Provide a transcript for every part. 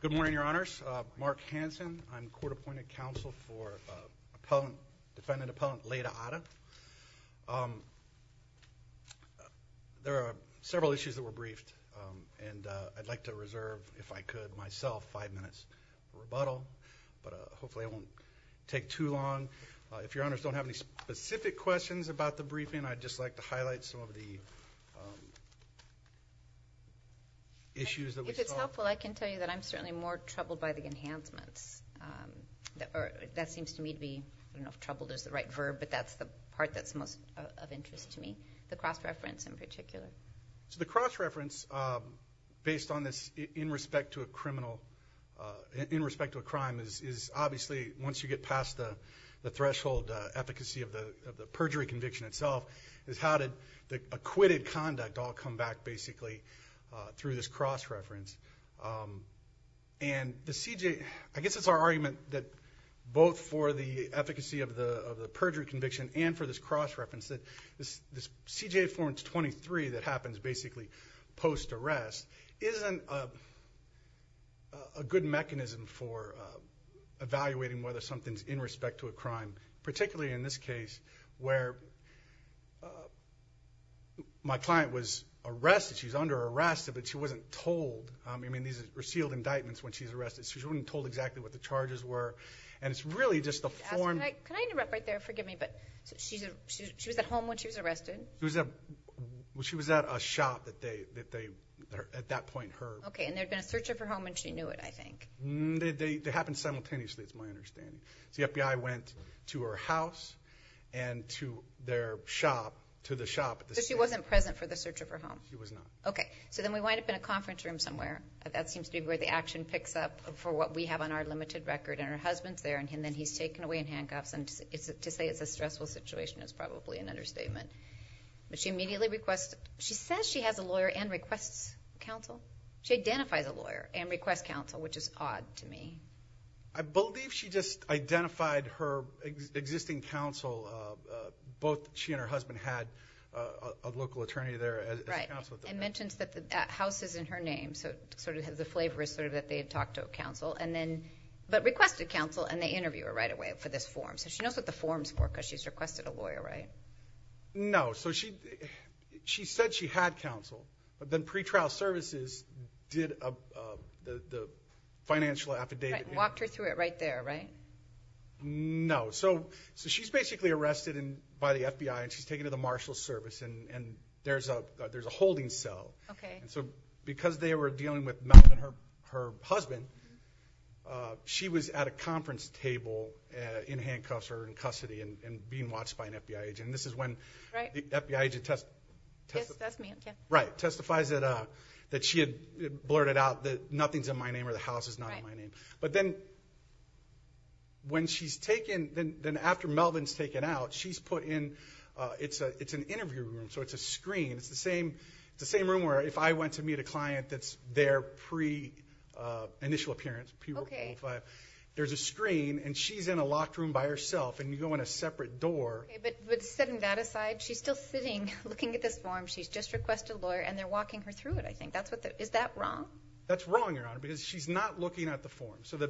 Good morning, Your Honors. Mark Hanson. I'm court-appointed counsel for defendant-appellant Leyda Ada. There are several issues that were briefed, and I'd like to reserve, if I could myself, five minutes for rebuttal, but hopefully it won't take too long. If Your Honors don't have any specific questions about the briefing, I'd just like to highlight some of the issues that we saw. If it's helpful, I can tell you that I'm certainly more troubled by the enhancements. That seems to me to be, I don't know if troubled is the right verb, but that's the part that's most of interest to me, the cross-reference in particular. So the cross-reference, based on this, in respect to a criminal, in respect to a crime, is obviously, once you get past the threshold efficacy of the perjury conviction itself, is how did the acquitted conduct all come back, basically, through this cross-reference. I guess it's our argument that both for the efficacy of the perjury conviction and for this cross-reference, that this CJA Form 23 that happens basically post-arrest isn't a good mechanism for evaluating whether something's in respect to a crime, particularly in this case, where my client was arrested, she's under arrest, but she wasn't told. I mean, these are sealed indictments when she's arrested, so she wasn't told exactly what the charges were. And it's really just the form... Can I interrupt right there? Forgive me, but she was at home when she was arrested? She was at a shop that they, at that point, her... Okay, and there'd been a search of her home and she knew it, I think. They happened simultaneously, it's my understanding. So the FBI went to her house and to their shop, to the shop... So she wasn't present for the search of her home? She was not. Okay, so then we wind up in a conference room somewhere. That seems to be where the action picks up for what we have on our limited record, and her husband's there, and then he's taken away in handcuffs, and to say it's a stressful situation is probably an understatement. But she immediately requests... She says she has a lawyer and requests counsel. She identifies a lawyer, which is odd to me. I believe she just identified her existing counsel. Both she and her husband had a local attorney there as counsel. Right, and mentions that the house is in her name, so sort of the flavor is sort of that they had talked to counsel, but requested counsel and they interview her right away for this form. So she knows what the form's for because she's requested a lawyer, right? No, so she said she had counsel, but then pretrial services did... The financial services affidavit... Walked her through it right there, right? No. So she's basically arrested by the FBI, and she's taken to the Marshal Service, and there's a holding cell. So because they were dealing with Melvin, her husband, she was at a conference table in handcuffs or in custody and being watched by an FBI agent. This is when the FBI agent testifies that she had blurted out that nothing's in my name or the name of my name. But then when she's taken... Then after Melvin's taken out, she's put in... It's an interview room, so it's a screen. It's the same room where if I went to meet a client that's there pre-initial appearance. There's a screen, and she's in a locked room by herself, and you go in a separate door. Okay, but setting that aside, she's still sitting looking at this form. She's just requested a lawyer, and they're walking her through it, I think. Is that wrong? That's wrong, Your Honor, because she's not looking at the form. So the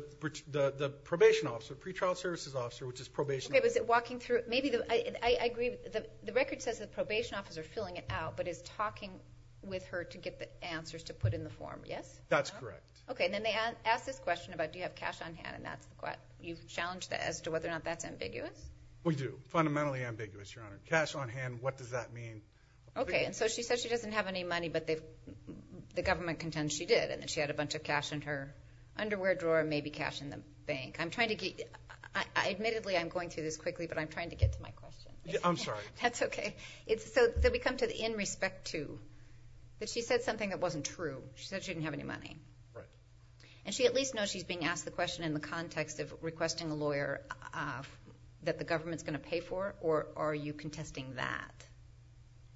probation officer, pre-trial services officer, which is probation... Okay, but is it walking through... I agree. The record says the probation officer filling it out, but is talking with her to get the answers to put in the form, yes? That's correct. Okay, and then they ask this question about do you have cash on hand, and that's what... You challenge that as to whether or not that's ambiguous? We do. Fundamentally ambiguous, Your Honor. Cash on hand, what does that mean? Okay, and so she says she doesn't have any money, but the government contends she did, and that she had a bunch of cash in her underwear drawer, maybe cash in the bank. I'm trying to get... Admittedly, I'm going through this quickly, but I'm trying to get to my question. I'm sorry. That's okay. So then we come to the in respect to, that she said something that wasn't true. She said she didn't have any money. Right. And she at least knows she's being asked the question in the context of requesting a lawyer that the government's going to pay for, or are you contesting that?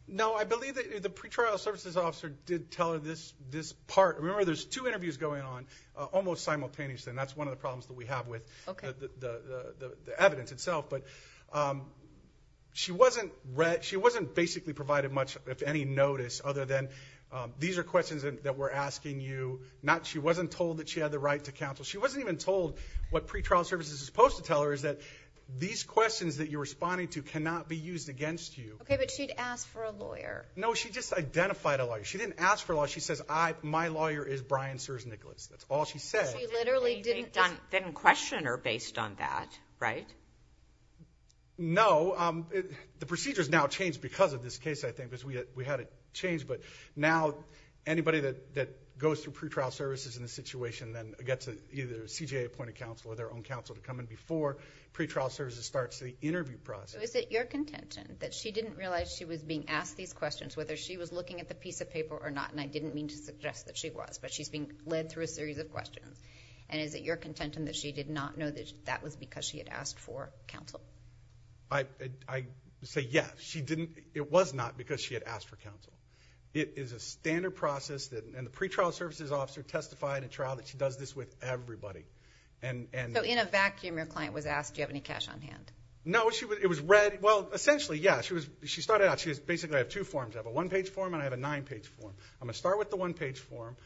No, I believe that the pretrial services officer did tell her this part. Remember, there's two interviews going on almost simultaneously, and that's one of the problems that we have with the evidence itself, but she wasn't basically provided much, if any, notice other than these are questions that we're asking you. She wasn't told that she had the right to counsel. She wasn't even told what pretrial services is supposed to tell her, is that these questions that you're responding to cannot be used against you. Okay, but she'd asked for a lawyer. No, she just identified a lawyer. She didn't ask for a lawyer. She says, my lawyer is Brian Sears-Nicholas. That's all she said. She literally didn't question her based on that, right? No. The procedure's now changed because of this case, I think, because we had it changed, but now anybody that goes through pretrial services in this situation then gets either a CJA-appointed counsel or their own counsel to come in before pretrial services starts the interview process. Is it your contention that she didn't realize she was being asked these questions, whether she was looking at the piece of paper or not, and I didn't mean to suggest that she was, but she's being led through a series of questions, and is it your contention that she did not know that that was because she had asked for counsel? I say yes. She didn't. It was not because she had asked for counsel. It is a standard process, and the pretrial services officer testified in trial that she does this with everybody. So in a vacuum, your client was asked, do you have any cash on hand? No, it was read, well, essentially, yeah. She started out, she basically had two forms. I have a one-page form and I have a nine-page form. I'm going to start with the one-page form,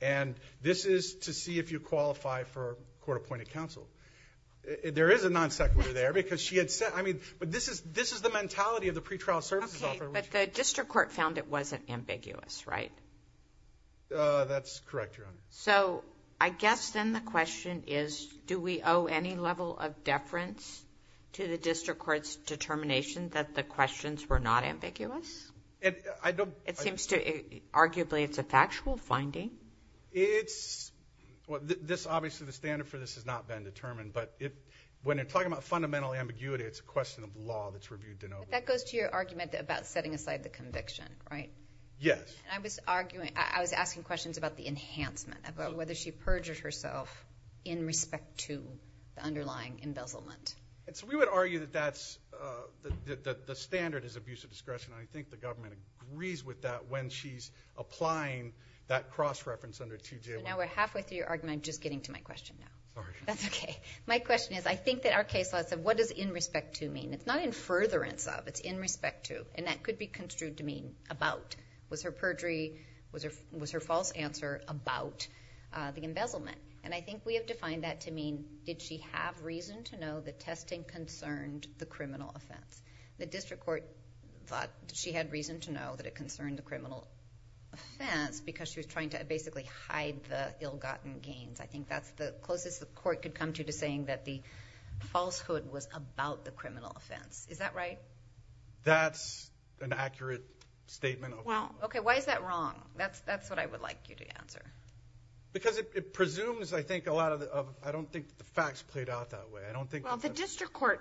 and this is to see if you qualify for court-appointed counsel. There is a non-sequitur there, but this is the mentality of the pretrial services officer. Okay, but the district court found it wasn't ambiguous, right? That's correct, Your Honor. So I guess then the question is, do we owe any level of deference to the district court's determination that the questions were not ambiguous? Arguably, it's a factual finding. Obviously, the standard for this has not been determined, but when you're talking about fundamental ambiguity, it's a question of law that's reviewed. But that goes to your argument about setting aside the conviction, right? Yes. I was asking questions about the enhancement, about whether she perjured herself in respect to the underlying embezzlement. So we would argue that the standard is abuse of discretion. I think the government agrees with that when she's applying that cross-reference under 2J1. Now we're halfway through your argument. I'm just getting to my question now. Sorry. That's okay. My question is, I think that our case law said, what does in respect to mean? It's not in furtherance of, it's in respect to. And that could be construed to mean about. Was her perjury, was her false answer about the embezzlement? And I think we have defined that to mean, did she have reason to know that testing concerned the criminal offense? The district court thought she had reason to know that it concerned the criminal offense because she was trying to basically hide the ill-gotten gains. I think that's the closest the court could come to saying that the falsehood was about the criminal offense. Is that right? That's an accurate statement. Well, okay, why is that wrong? That's what I would like you to answer. Because it presumes, I think, a lot of, I don't think the facts played out that way. Well, the district court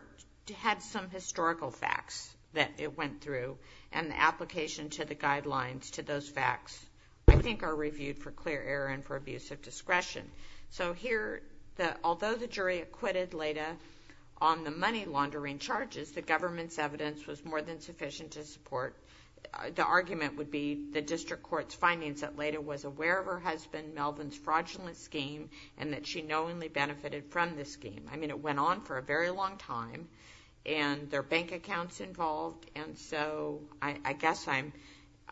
had some historical facts that it went through, and the application to the guidelines to those facts, I think, are reviewed for clear error and for abuse of discretion. So here, although the jury acquitted Leda on the money laundering charges, the government's evidence was more than sufficient to support, the argument would be the district court's findings that Leda was aware of her husband Melvin's fraudulent scheme, and that she knowingly benefited from the scheme. I mean, it went on for a very long time, and there are bank accounts involved, and so I guess I'm,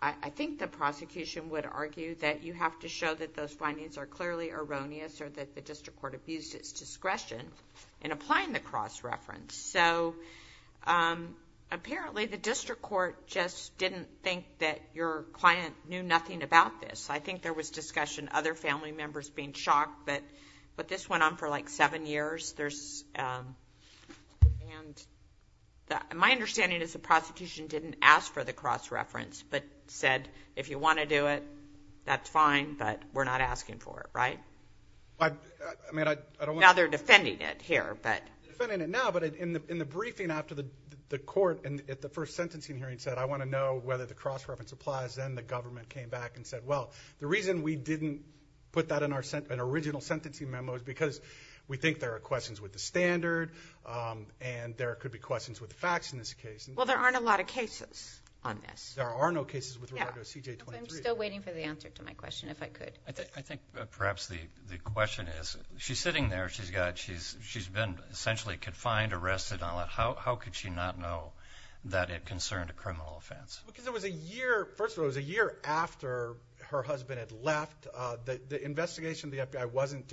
I think the prosecution would argue that you have to show that those findings are clearly erroneous, or that the district court abused its discretion in applying the cross-reference. So, apparently the district court just didn't think that your client knew nothing about this. I think there was discussion, other family members being shocked, but this went on for like seven years. My understanding is the prosecution didn't ask for the cross-reference, but said, if you want to do it, that's fine, but we're not asking for it, right? Now they're defending it here, but. Defending it now, but in the briefing after the court, at the first sentencing hearing said, I want to know whether the cross-reference applies. Then the government came back and said, well, the reason we didn't put that in our original sentencing memo is because we think there are questions with the standard, and there could be questions with the facts in this case. Well, there aren't a lot of cases on this. There are no cases with Roberto CJ23. I'm still waiting for the answer to my question, if I could. I think perhaps the question is, she's sitting there, she's been essentially confined, arrested, and all that. How could she not know that it concerned a criminal offense? Because it was a year, first of all, it was a year after her husband had left. The investigation of the FBI wasn't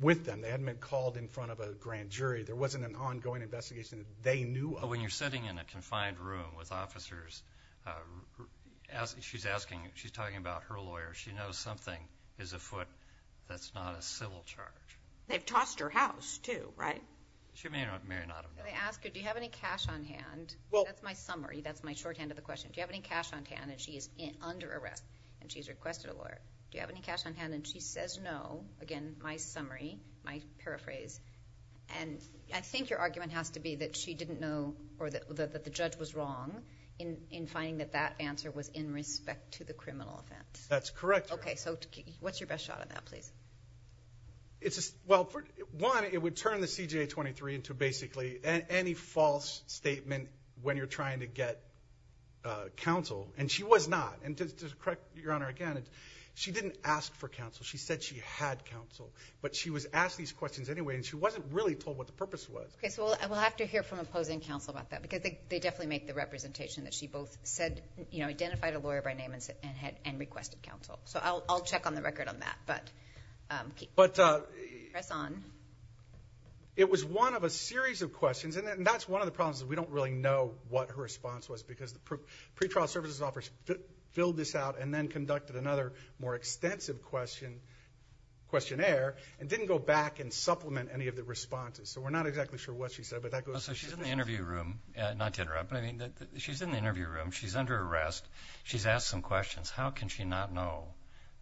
with them. They hadn't been called in front of a grand jury. There wasn't an ongoing investigation. They knew... When you're sitting in a confined room with officers, she's talking about her lawyer. She knows something is afoot that's not a civil charge. They've tossed her house, too, right? She may or may not have done that. Let me ask you, do you have any cash on hand? That's my summary. That's my shorthand of the question. Do you have any cash on hand? She is under arrest, and she's requested a lawyer. Do you have any cash on hand? She says no. Again, my summary, my paraphrase. I think your argument has to be that she didn't know or that the judge was wrong in finding that that answer was in respect to the criminal offense. That's correct. Okay. What's your best shot at that, please? Well, one, it would turn the CJ23 into basically... Any false statement when you're trying to get counsel, and she was not. And to correct your Honor again, she didn't ask for counsel. She said she had counsel, but she was asked these questions anyway, and she wasn't really told what the purpose was. Okay, so we'll have to hear from opposing counsel about that, because they definitely make the representation that she both said... you know, identified a lawyer by name and requested counsel. So I'll check on the record on that, but... But... Press on. It was one of a series of questions, and that's one of the problems is we don't really know what her response was, because the pretrial services officer filled this out and then conducted another more extensive question, questionnaire, and didn't go back and supplement any of the responses. So we're not exactly sure what she said, but that goes... So she's in the interview room. Not to interrupt, but I mean, she's in the interview room. She's under arrest. She's asked some questions. How can she not know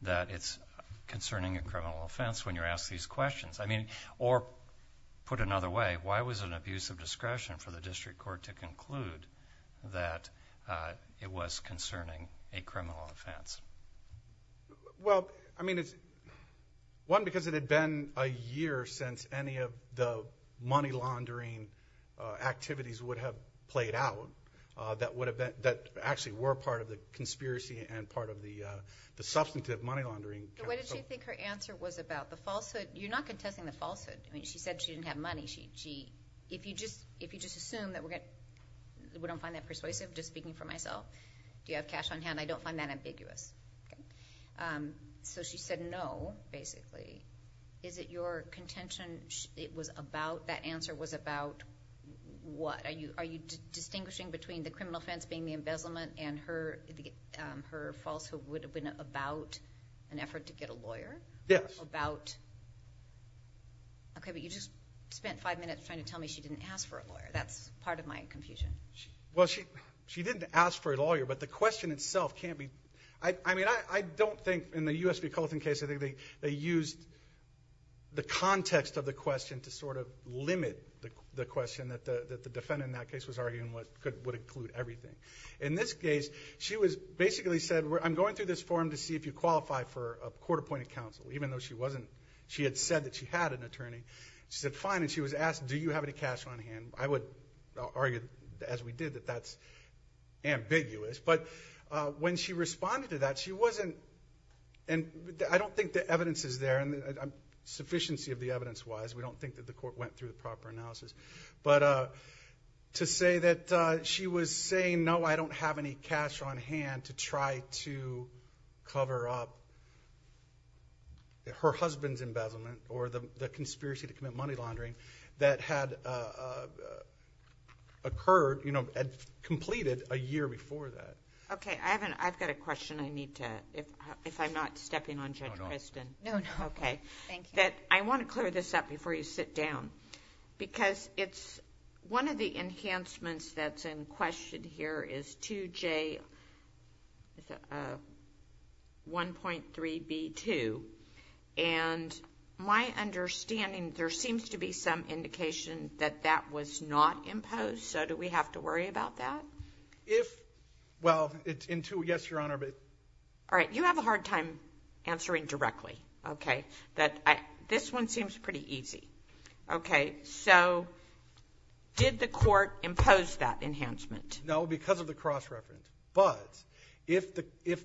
that it's concerning a criminal offense when you're asked these questions? I mean, or put another way, why was it an abuse of discretion for the district court to conclude that it was concerning a criminal offense? Well, I mean, it's... one, because it had been a year since any of the money laundering activities would have played out that actually were part of the conspiracy and part of the substantive money laundering... So what did she think her answer was about? You're not contesting the falsehood. I mean, she said she didn't have money. If you just assume that we're going to... we don't find that persuasive, just speaking for myself. Do you have cash on hand? I don't find that ambiguous. Okay. So she said no, basically. Is it your contention it was about... that answer was about what? Are you distinguishing between the criminal offense being the embezzlement and her falsehood would have been about an effort to get a lawyer? Yes. About... okay, but you just spent five minutes trying to tell me she didn't ask for a lawyer. That's part of my confusion. Well, she didn't ask for a lawyer, but the question itself can't be... I mean, I don't think in the U.S. v. Colston case, I think they used the context of the question to sort of limit the question that the defendant in that case was arguing would include everything. In this case, she basically said, I'm going through this form to see if you qualify for a court-appointed counsel, even though she wasn't... she had said that she had an attorney. She said, fine, and she was asked, do you have any cash on hand? I would argue, as we did, that that's ambiguous, but when she responded to that, she wasn't... and I don't think the evidence is there, and sufficiency of the evidence-wise, we don't think that the court went through the proper analysis, but to say that she was saying, no, I don't have any cash on hand to try to cover up her husband's embezzlement or the conspiracy to commit money laundering that had occurred, you know, had completed a year before that. Okay. I've got a question I need to... if I'm not stepping on Judge Christin. No, no. Okay. Thank you. I want to clear this up before you sit down, because it's... one of the enhancements that's in question here is 2J1.3b2, and my understanding, there seems to be some indication that that was not imposed, so do we have to worry about that? If... well, in 2... yes, Your Honor, but... All right. You have a hard time answering directly, okay, that I... this one seems pretty easy. Okay. So, did the court impose that enhancement? No, because of the cross-reference, but if the... if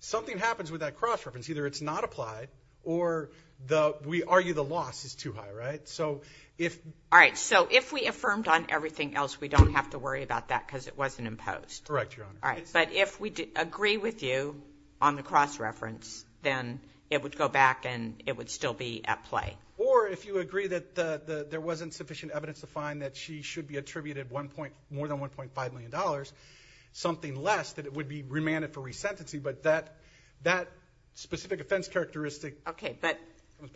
something happens with that cross-reference, either it's not applied or the... we argue the loss is too high, right? So, if... All right. So, if we affirmed on everything else, we don't have to worry about that because it wasn't imposed? Correct, Your Honor. All right. But if we agree with you on the cross-reference, then it would go back and it would still be at play? No. Or, if you agree that there wasn't sufficient evidence to find that she should be attributed 1... more than $1.5 million, something less, that it would be remanded for resentency, but that specific offense characteristic... Okay, but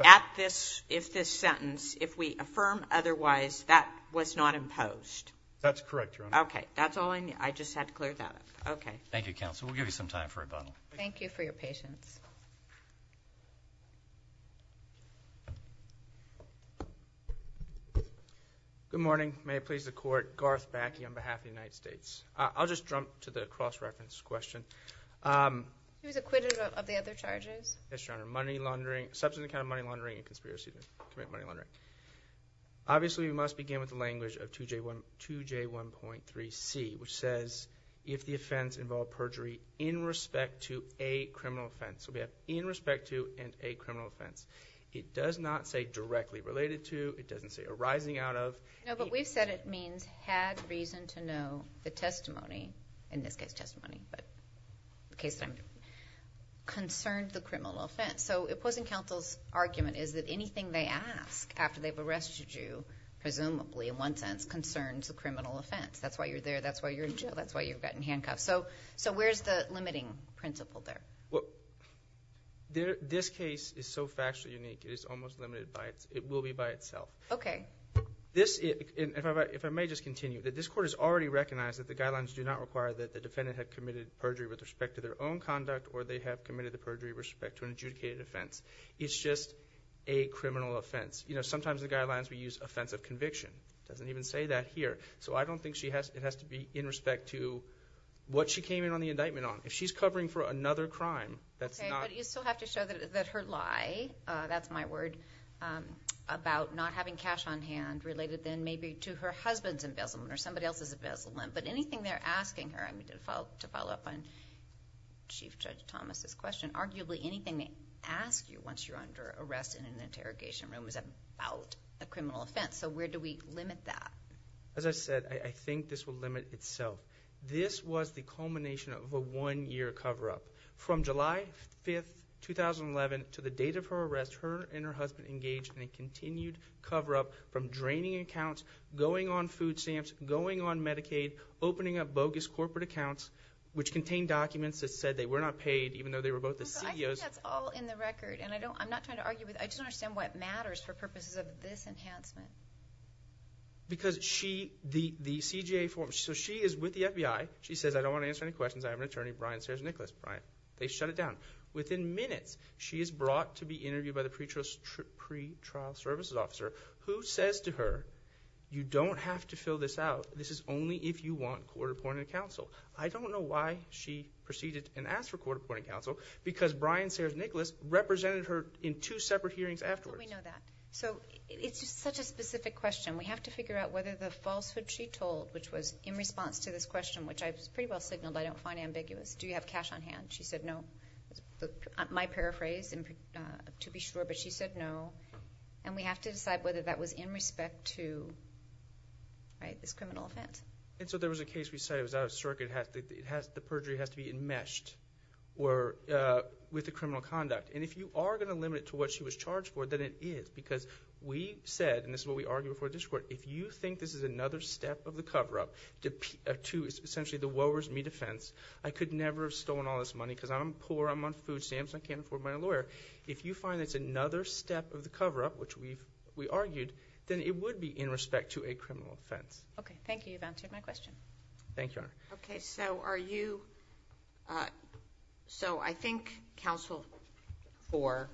at this... if this sentence, if we affirm otherwise, that was not imposed? That's correct, Your Honor. Okay. That's all I... I just had to clear that up. Okay. Thank you, Counsel. We'll give you some time for rebuttal. Thank you for your patience. Good morning. May it please the Court. Garth Backey on behalf of the United States. I'll just jump to the cross-reference question. He was acquitted of the other charges. Yes, Your Honor. Money laundering, substance in the account of money laundering and conspiracy to commit money laundering. Obviously, we must begin with the language of 2J1.3c, which says, if the offense involved perjury in respect to a criminal offense. It does not say, if the offense involved perjury in respect to a criminal offense. It doesn't say arising out of. No, but we've said it means had reason to know the testimony, in this case testimony, but the case time, concerned the criminal offense. So, it wasn't Counsel's argument is that anything they ask after they've arrested you, presumably, in one sense, concerns the criminal offense. That's why you're there, that's why you're in jail, that's why you've gotten handcuffed. So, where's the limiting principle there? Well, this case is so factually unique, it is almost limited by the fact that it's a It's a case of a perjury. It's a case of a perjury. in itself. Okay. It's a case of a perjury. This is, if I may just continue, that this court has already recognized that the guidelines do not require that the defendant have committed perjury with respect to their own conduct. It's just a criminal offense. You know, sometimes the guidelines we use offense of conviction. It doesn't even say that here. So I don't think it has to be in respect to what she came in on the indictment on. If she's covering for another crime that's not… Okay, but you still have to show that her lie, that's my word, about not having cash on hand related then maybe to her husband's embezzlement or somebody else's embezzlement. But anything they're asking her, I mean, to follow up on Chief Judge Thomas' question, arguably anything they ask you once you're under arrest in an interrogation room is about a criminal offense. So where do we limit that? As I said, I think this will limit itself. This was the culmination of a one-year cover-up. From July 5th, 2011 to the date of her arrest, she and her husband engaged in a continued cover-up from draining accounts, going on food stamps, going on Medicaid, opening up bogus corporate accounts, which contained documents that said they were not paid, even though they were both the CEO's. I think that's all in the record. And I'm not trying to argue with… I just don't understand why it matters for purposes of this enhancement. Because she, the CJA… So she is with the FBI. She says, I don't want to answer any questions. I have an attorney, Brian Stairs Nicholas. They shut it down. Within minutes, she is brought to be interviewed by the pretrial services officer, who says to her, you don't have to fill this out. This is only if you want court-appointed counsel. I don't know why she proceeded and asked for court-appointed counsel, because Brian Stairs Nicholas represented her in two separate hearings afterwards. Well, we know that. So it's just such a specific question. We have to figure out whether the falsehood she told, which was in response to this question, which I pretty well signaled I don't find ambiguous. Do you have cash on hand? She said no. My paraphrase, to be sure, but she said no. And we have to decide whether that was in respect to this criminal offense. And so there was a case we cited. It was out of circuit. The perjury has to be enmeshed with the criminal conduct. And if you are going to limit it to what she was charged for, then it is. Because we said, and this is what we argued before the district court, if you think this is another step of the cover-up to essentially the woe is me defense, I could never have stolen all this money because I'm poor, I'm on food stamps, I can't afford my lawyer. If you find that's another step of the cover-up, which we argued, then it would be in respect to a criminal offense. Okay. Thank you. You've answered my question. Thank you, Your Honor. Okay. So are you – so I think counsel for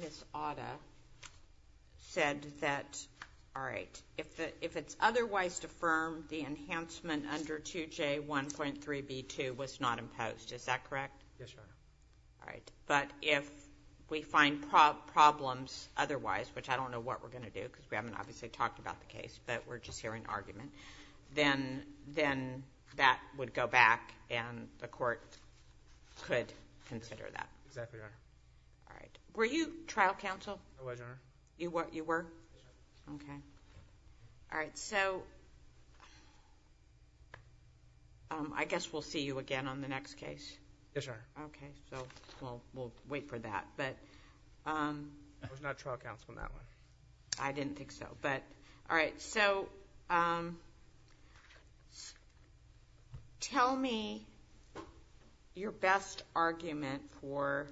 Ms. Otta said that, all right, if it's otherwise deferred, the enhancement under 2J1.3b2 was not imposed. Is that correct? Yes, Your Honor. All right. But if we find problems otherwise, which I don't know what we're going to do because we haven't obviously talked about the case, but we're just hearing argument, then that would go back and the court could consider that. Exactly right. All right. Were you trial counsel? I was, Your Honor. You were? Yes. Okay. All right. So I guess we'll see you again on the next case. Yes, Your Honor. Okay. So we'll wait for that. I was not trial counsel on that one. I didn't think so. All right. So tell me your best argument for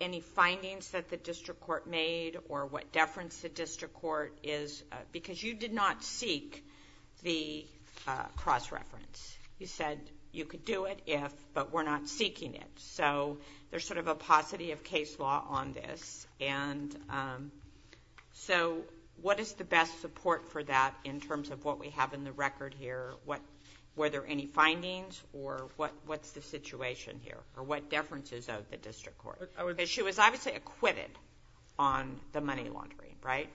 any findings that the district court made or what deference the district court is because you did not seek the cross-reference. You said you could do it if, but we're not seeking it. So there's sort of a paucity of case law on this and so what is the best support for that in terms of what we have in the record here? Were there any findings or what's the situation here or what deference is of the district court? She was obviously acquitted on the money laundering, right?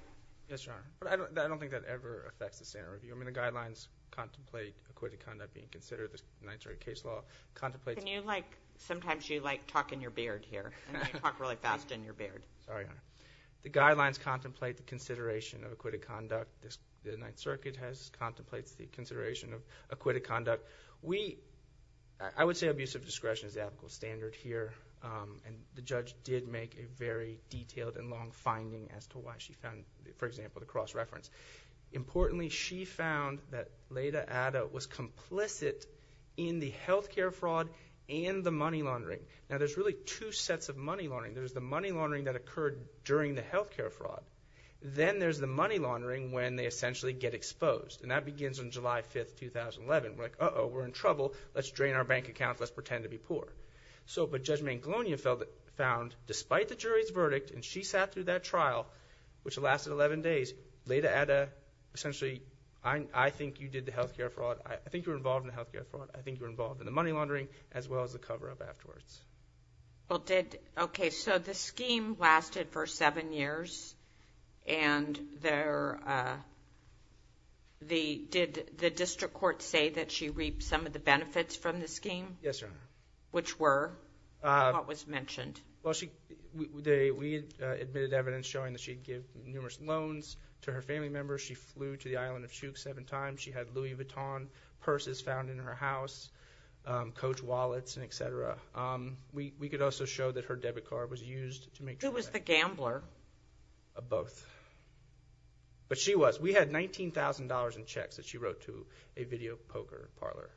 Yes, Your Honor. But I don't think that ever affects the standard review. I mean, the guidelines contemplate acquitted conduct being considered in the ninth-degree case law, contemplates... Can you like... Sometimes you like talk in your beard here and then you talk really fast and you're bared. Sorry, Your Honor. The guidelines contemplate the consideration of acquitted conduct. The Ninth Circuit contemplates the consideration of acquitted conduct. We... I would say abusive discretion is the ethical standard here and the judge did make a very detailed and long finding as to why she found, for example, the cross-reference. Importantly, she found that Leda Adda was complicit in the health care fraud and the money laundering. Now, there's really two sets of money laundering. There's the money laundering that occurred during the health care fraud. Then there's the money laundering when they essentially get exposed. And that begins on July 5, 2011. We're like, uh-oh, we're in trouble. Let's drain our bank account. Let's pretend to be poor. So, but Judge Manglonia found, despite the jury's verdict and she sat through that trial, which lasted 11 days, Leda Adda essentially... I think you did the health care fraud. I think you were involved in the health care fraud. I think you were involved in the money laundering as well as the cover-up afterwards. Well, did... okay, so the scheme lasted for seven years and there... did the district court say that she reaped some of the benefits from the scheme? Yes, Your Honor. Which were? What was mentioned? Well, we admitted evidence showing that she had given numerous loans to her family members. She flew to the island of Chuuk seven times. She had Louis Vuitton purses found in her house, coach wallets, and et cetera. We could also show that her debit card was used to make... Who was the gambler? Both. But she was. We had $19,000 in checks that she wrote to a video poker parlor.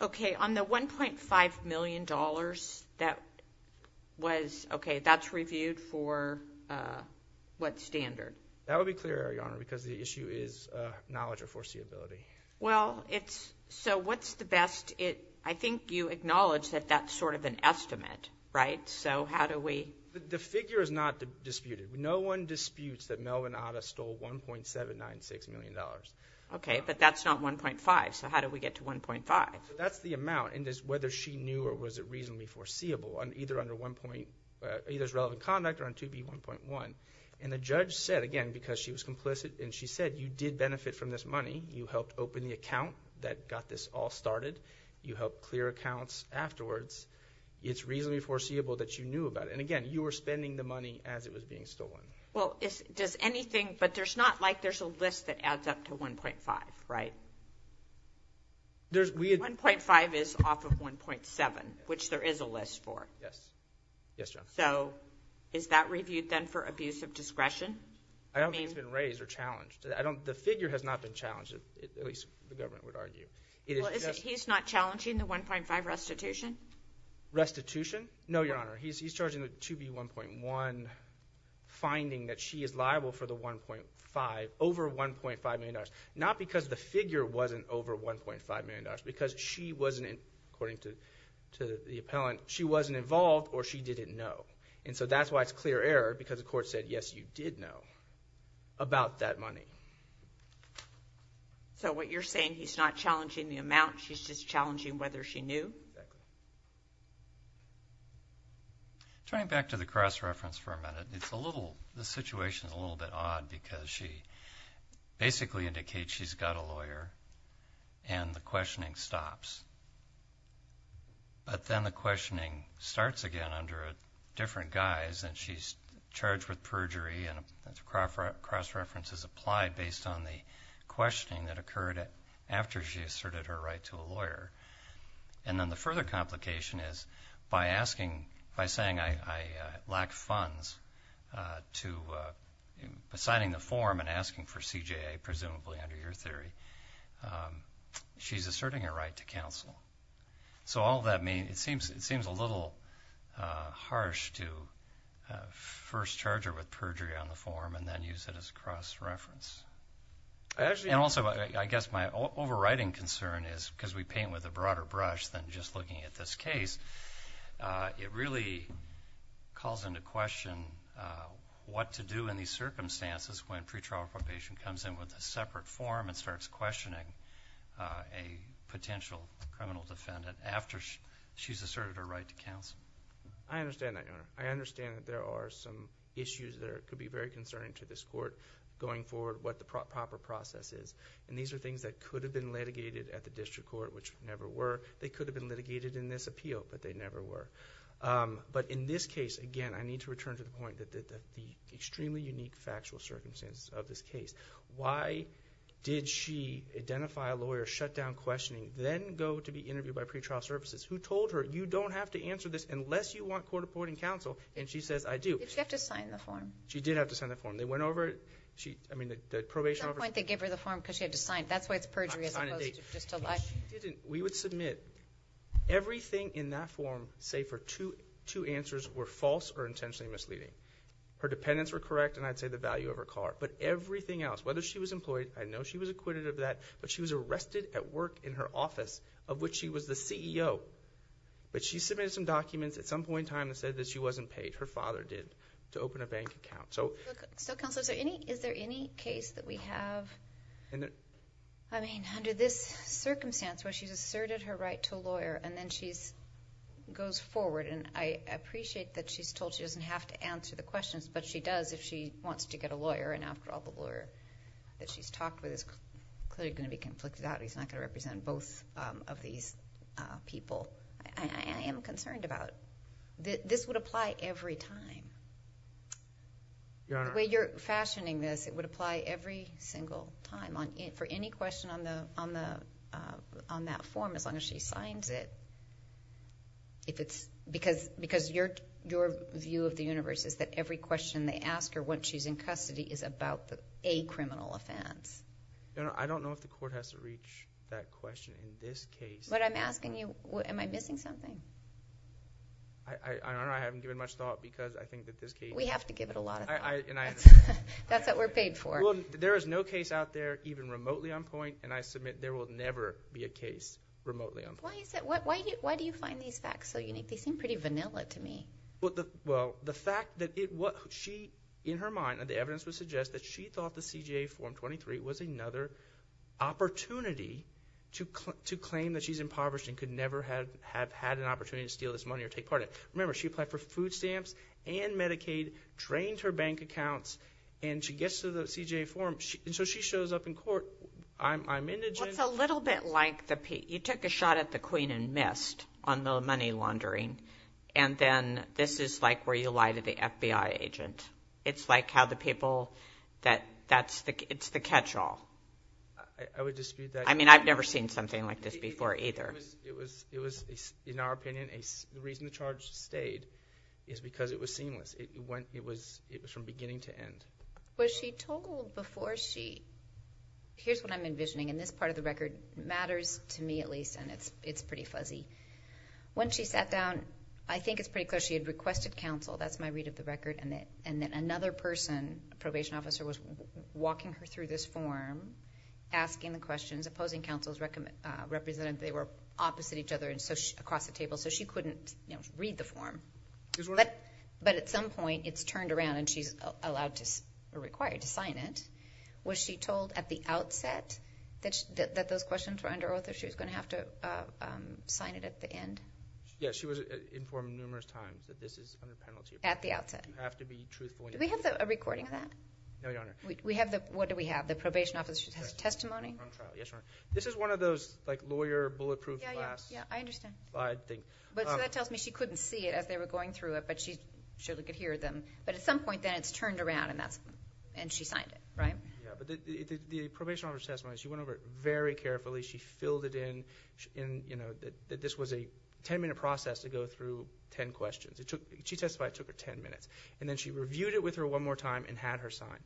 Okay, on the $1.5 million that was... Okay, that's reviewed for what standard? That would be clear, Your Honor, because the issue is knowledge or foreseeability. Well, it's... so what's the best... I think you acknowledged that that's sort of an estimate, right? So how do we... The figure is not disputed. No one disputes that Melvin Atta stole $1.796 million. Okay, but that's not 1.5, so how do we get to 1.5? That's the amount, and it's whether she knew or was it reasonably foreseeable either under one point... either as relevant conduct or on 2B1.1. And the judge said, again, because she was complicit, and she said, you did benefit from this money. You helped open the account that got this all started. You helped clear accounts afterwards. It's reasonably foreseeable that you knew about it. And again, you were spending the money as it was being stolen. Well, does anything... but there's not like there's a list that adds up to 1.5, right? 1.5 is off of 1.7, which there is a list for. Yes. Yes, Your Honor. So is that reviewed then for abuse of discretion? I don't think it's been raised or challenged. The figure has not been challenged, at least the government would argue. Well, he's not challenging the 1.5 restitution? Restitution? No, Your Honor. He's charging the 2B1.1 finding that she is liable for the 1.5, over $1.5 million, not because the figure wasn't over $1.5 million, because she wasn't, according to the appellant, she wasn't involved or she didn't know. And so that's why it's clear error, because the court said, yes, you did know about that money. So what you're saying, he's not challenging the amount, he's just challenging whether she knew? Exactly. Turning back to the cross-reference for a minute, it's a little... the situation is a little bit odd because she basically indicates that she's got a lawyer, and the questioning stops. But then the questioning starts again under a different guise, and she's charged with perjury, and the cross-reference is applied based on the questioning that occurred after she asserted her right to a lawyer. And then the further complication is by saying, I lack funds to signing the form and asking for CJA, presumably under your theory, she's asserting her right to counsel. So all that means, it seems a little harsh to first charge her with perjury on the form and then use it as a cross-reference. And also, I guess my overriding concern is, because we paint with a broader brush than just looking at this case, it really calls into question what to do in these circumstances when pretrial probation comes in with a separate form and starts questioning a potential criminal defendant after she's asserted her right to counsel. I understand that, Your Honor. I understand that there are some issues that could be very concerning to this court going forward, what the proper process is. And these are things that could have been litigated at the district court, which never were. They could have been litigated in this appeal, but they never were. But in this case, again, I need to return to the point that the extremely unique factual circumstances of this case. Why did she identify a lawyer, shut down questioning, then go to be interviewed by pretrial services, who told her, you don't have to answer this unless you want court reporting counsel, and she says, I do. She had to sign the form. She did have to sign the form. They went over it. At some point they gave her the form because she had to sign it. That's why it's perjury as opposed to just a lie. No, she didn't. We would submit everything in that form, save for two answers were false or intentionally misleading. Her dependents were correct, and I'd say the value of her car. But everything else, whether she was employed, I know she was acquitted of that, but she was arrested at work in her office, of which she was the CEO. But she submitted some documents at some point in time that said that she wasn't paid. Her father did, to open a bank account. Counsel, is there any case that we have, I mean, under this circumstance where she's asserted her right to a lawyer and then she goes forward, and I appreciate that she's told she doesn't have to answer the questions, but she does if she wants to get a lawyer, and after all the lawyer that she's talked with is clearly going to be conflicted out, he's not going to represent both of these people. I am concerned about it. This would apply every time. Your Honor. The way you're fashioning this, it would apply every single time. For any question on that form, as long as she signs it, because your view of the universe is that every question they ask her once she's in custody is about a criminal offense. Your Honor, I don't know if the court has to reach that question in this case. But I'm asking you, am I missing something? I don't know. I haven't given much thought because I think that this case... We have to give it a lot of thought. That's what we're paid for. Well, there is no case out there even remotely on point, and I submit there will never be a case remotely on point. Why do you find these facts so unique? They seem pretty vanilla to me. Well, the fact that she, in her mind, and the evidence would suggest that she thought the CJA Form 23 was another opportunity to claim that she's impoverished and could never have had an opportunity to steal this money or take part in it. Remember, she applied for food stamps and Medicaid, drained her bank accounts, and she gets to the CJA Form. And so she shows up in court. I'm indigent. Well, it's a little bit like the... You took a shot at the queen and missed on the money laundering, and then this is like where you lie to the FBI agent. It's like how the people that... it's the catch-all. I would dispute that. I mean, I've never seen something like this before either. It was, in our opinion, the reason the charge stayed is because it was seamless. It was from beginning to end. Was she told before she... Here's what I'm envisioning, and this part of the record matters to me at least, and it's pretty fuzzy. When she sat down, I think it's pretty clear she had requested counsel. That's my read of the record. And then another person, a probation officer, was walking her through this form, asking the questions, opposing counsel's representative. They were opposite each other across the table, so she couldn't read the form. But at some point, it's turned around and she's allowed or required to sign it. Was she told at the outset that those questions were under author? She was going to have to sign it at the end? Yes, she was informed numerous times that this is under penalty. At the outset? You have to be truthful. Do we have a recording of that? No, Your Honor. What do we have? The probation officer's testimony? Yes, Your Honor. This is one of those lawyer bulletproof glass. Yeah, I understand. I think. So that tells me she couldn't see it as they were going through it, but she could hear them. But at some point, then, it's turned around and she signed it, right? Yeah, but the probation officer's testimony, she went over it very carefully. She filled it in. This was a 10-minute process to go through 10 questions. She testified it took her 10 minutes. And then she reviewed it with her one more time and had her sign.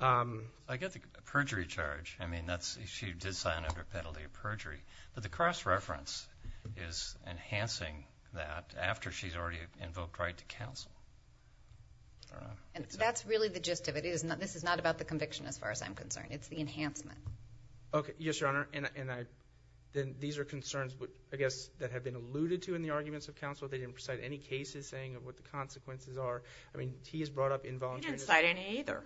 I get the perjury charge. I mean, she did sign under penalty of perjury. But the cross-reference is enhancing that after she's already invoked right to counsel. That's really the gist of it. This is not about the conviction as far as I'm concerned. It's the enhancement. Okay. Yes, Your Honor. And these are concerns, I guess, that have been alluded to in the arguments of counsel. They didn't cite any cases saying what the consequences are. I mean, he has brought up involuntary. He didn't cite any either.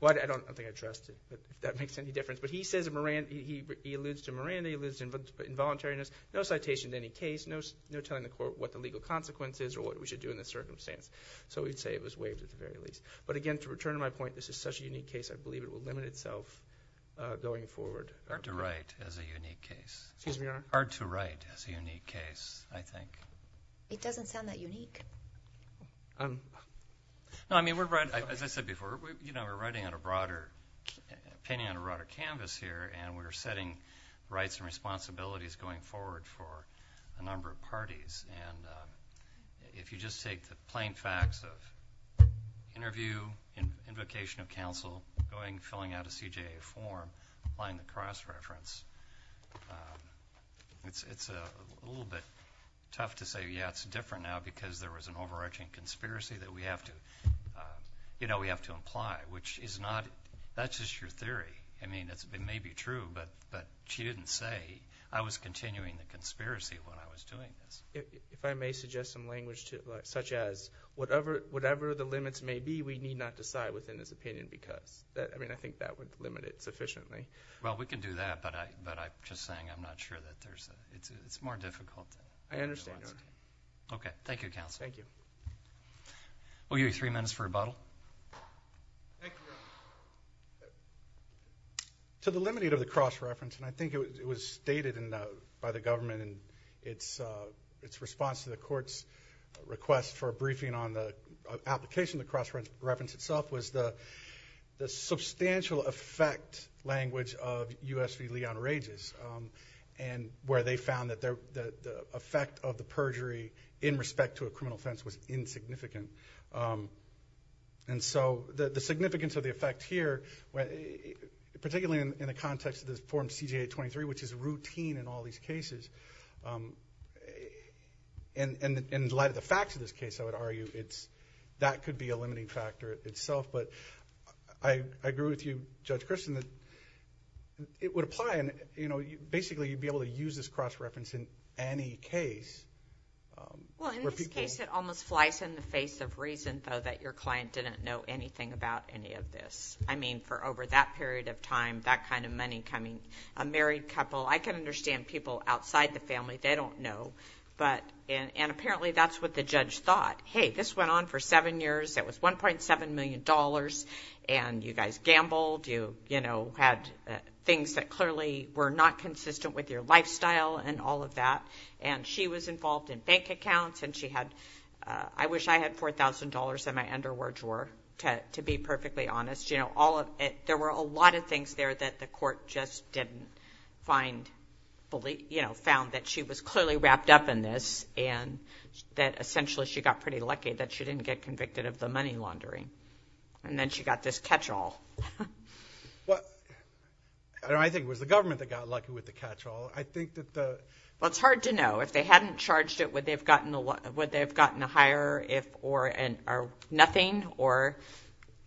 Well, I don't think I trust it. That makes any difference. But he says in Moran, he alludes to Moran. He alludes to involuntariness. No citation in any case. No telling the court what the legal consequence is or what we should do in this circumstance. So, we'd say it was waived at the very least. But again, to return to my point, this is such a unique case, I believe it will limit itself going forward. Hard to write as a unique case. Excuse me, Your Honor. Hard to write as a unique case, I think. It doesn't sound that unique. No, I mean, we're writing, as I said before, we're writing on a broader, painting on a broader canvas here, and we're setting rights and responsibilities going forward for a number of parties. And if you just take the plain facts of interview, invocation of counsel, going, filling out a CJA form, applying the cross-reference, it's a little bit tough to say, yeah, it's different now because there was an overarching conspiracy that we have to imply, which is not, that's just your theory. I mean, it may be true, but she didn't say, I was continuing the conspiracy when I was doing this. If I may suggest some language, such as, whatever the limits may be, we need not decide within this opinion because. I mean, I think that would limit it sufficiently. Well, we can do that, but I'm just saying I'm not sure that there's a, it's more difficult. I understand, Your Honor. Okay. Thank you, Counsel. Thank you. We'll give you three minutes for rebuttal. Thank you, Your Honor. To the limit of the cross-reference, and I think it was stated by the government in its response to the court's request for a briefing on the application of the cross-reference itself was the substantial effect language of U.S. v. Leon Rages, and where they found that the effect of the perjury in respect to a criminal offense was insignificant. And so the significance of the effect here, particularly in the context of this Form CJA-23, which is routine in all these cases, and in light of the facts of this case, I would argue that could be a limiting factor itself. But I agree with you, Judge Christin, that it would apply. Basically, you'd be able to use this cross-reference in any case. Well, in this case, it almost flies in the face of reason, though, that your client didn't know anything about any of this. I mean, for over that period of time, that kind of money coming, a married couple. I can understand people outside the family. They don't know. And apparently, that's what the judge thought. Hey, this went on for seven years. It was $1.7 million, and you guys gambled. You had things that clearly were not consistent with your lifestyle and all of that. And she was involved in bank accounts, and she had – I wish I had $4,000 in my underwear drawer, to be perfectly honest. There were a lot of things there that the court just didn't find – found that she was clearly wrapped up in this and that essentially she got pretty lucky that she didn't get convicted of the money laundering. And then she got this catch-all. I think it was the government that got lucky with the catch-all. I think that the – Well, it's hard to know. If they hadn't charged it, would they have gotten a higher or nothing or –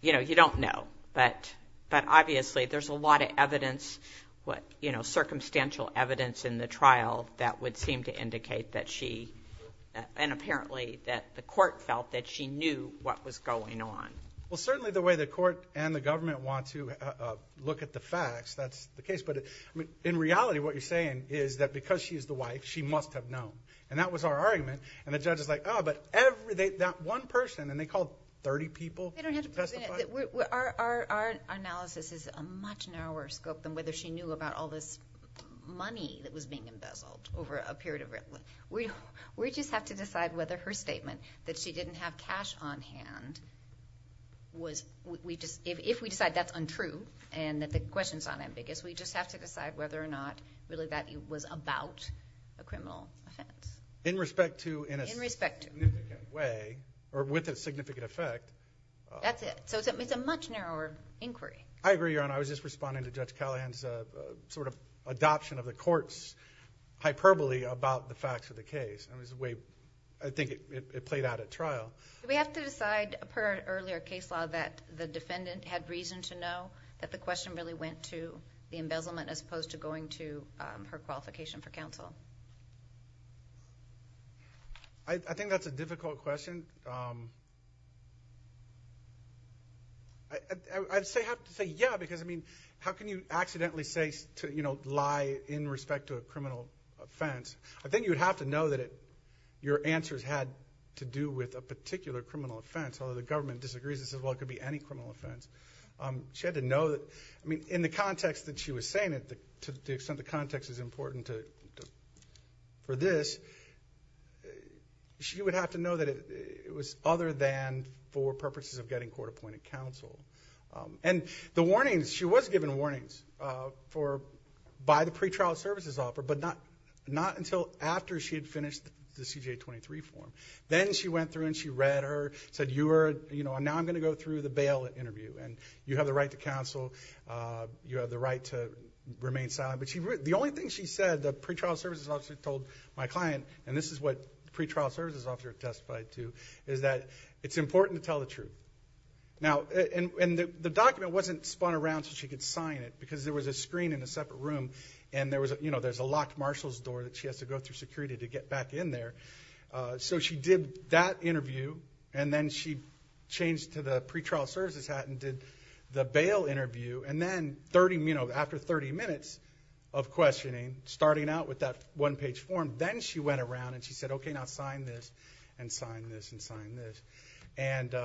you don't know. But obviously, there's a lot of evidence, circumstantial evidence in the trial that would seem to indicate that she – and apparently that the court felt that she knew what was going on. Well, certainly the way the court and the government want to look at the facts, that's the case. But in reality, what you're saying is that because she is the wife, she must have known. And that was our argument. And the judge is like, oh, but every – that one person, and they called 30 people to testify? Our analysis is a much narrower scope than whether she knew about all this money that was being embezzled over a period of – we just have to decide whether her statement that she didn't have cash on hand was – if we decide that's untrue and that the question's not ambiguous, we just have to decide whether or not really that was about a criminal offense. In respect to – In respect to. In a significant way, or with a significant effect. That's it. So it's a much narrower inquiry. I agree, Your Honor. I was just responding to Judge Callahan's sort of adoption of the court's hyperbole about the facts of the case. I think it played out at trial. Do we have to decide per earlier case law that the defendant had reason to know that the question really went to the embezzlement as opposed to going to her qualification for counsel? I think that's a difficult question. I have to say yeah, because, I mean, how can you accidentally say – lie in respect to a criminal offense? I think you would have to know that your answers had to do with a particular criminal offense, although the government disagrees and says, well, it could be any criminal offense. She had to know that – I mean, in the context that she was saying it, to the extent the context is important for this, she would have to know that it was other than for purposes of getting court-appointed counsel. And the warnings, she was given warnings by the pretrial services officer, but not until after she had finished the CJA 23 form. Then she went through and she read her, said, now I'm going to go through the bail interview, and you have the right to counsel, you have the right to remain silent. But the only thing she said, the pretrial services officer told my client, and this is what the pretrial services officer testified to, is that it's important to tell the truth. And the document wasn't spun around so she could sign it because there was a screen in a separate room and there's a locked marshal's door that she has to go through security to get back in there. So she did that interview, and then she changed to the pretrial services hat and did the bail interview. And then after 30 minutes of questioning, starting out with that one-page form, then she went around and she said, okay, now sign this and sign this and sign this. And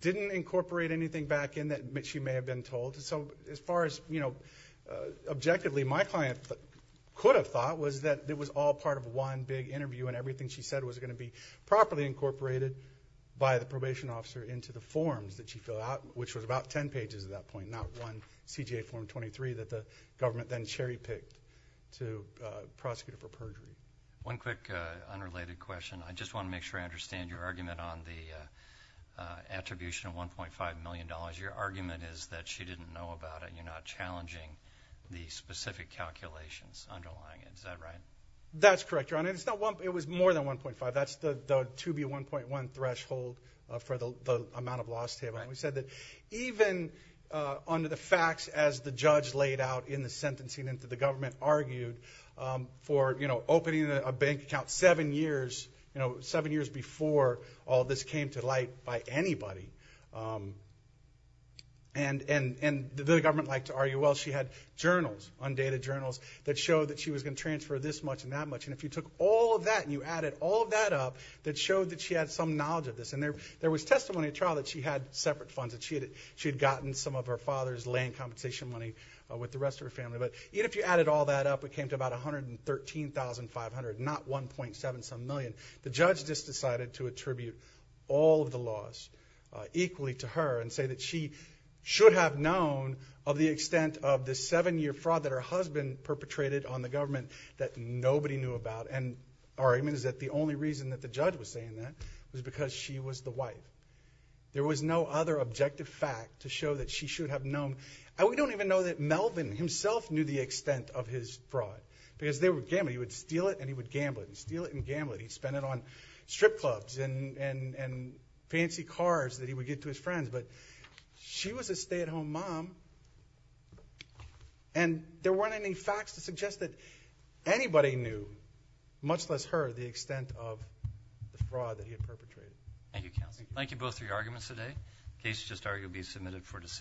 didn't incorporate anything back in that she may have been told. So as far as, you know, objectively my client could have thought was that it was all part of one big interview and everything she said was going to be properly incorporated by the probation officer into the forms that she filled out, which was about 10 pages at that point, not one CJA form 23 that the government then cherry-picked to prosecute her for perjury. One quick unrelated question. I just want to make sure I understand your argument on the attribution of $1.5 million. Your argument is that she didn't know about it and you're not challenging the specific calculations underlying it. Is that right? That's correct, Your Honor. It was more than 1.5. That's the 2B1.1 threshold for the amount of loss table. We said that even under the facts as the judge laid out in the sentencing and the government argued for, you know, opening a bank account seven years, you know, seven years before all this came to light by anybody. And the government liked to argue, well, she had journals, undated journals, that showed that she was going to transfer this much and that much. And if you took all of that and you added all of that up, that showed that she had some knowledge of this. And there was testimony at trial that she had separate funds, that she had gotten some of her father's land compensation money with the rest of her family. But even if you added all that up, it came to about $113,500, not $1.7 some million. The judge just decided to attribute all of the loss equally to her and say that she should have known of the extent of the seven-year fraud that her husband perpetrated on the government that nobody knew about. And our argument is that the only reason that the judge was saying that was because she was the wife. There was no other objective fact to show that she should have known. And we don't even know that Melvin himself knew the extent of his fraud, because they were gambling. He would steal it and he would gamble it. He'd steal it and gamble it. He'd spend it on strip clubs and fancy cars that he would give to his friends. But she was a stay-at-home mom. And there weren't any facts to suggest that anybody knew, much less her, the extent of the fraud that he had perpetrated. Thank you, counsel. Thank you both for your arguments today. The case is just arguably submitted for decision.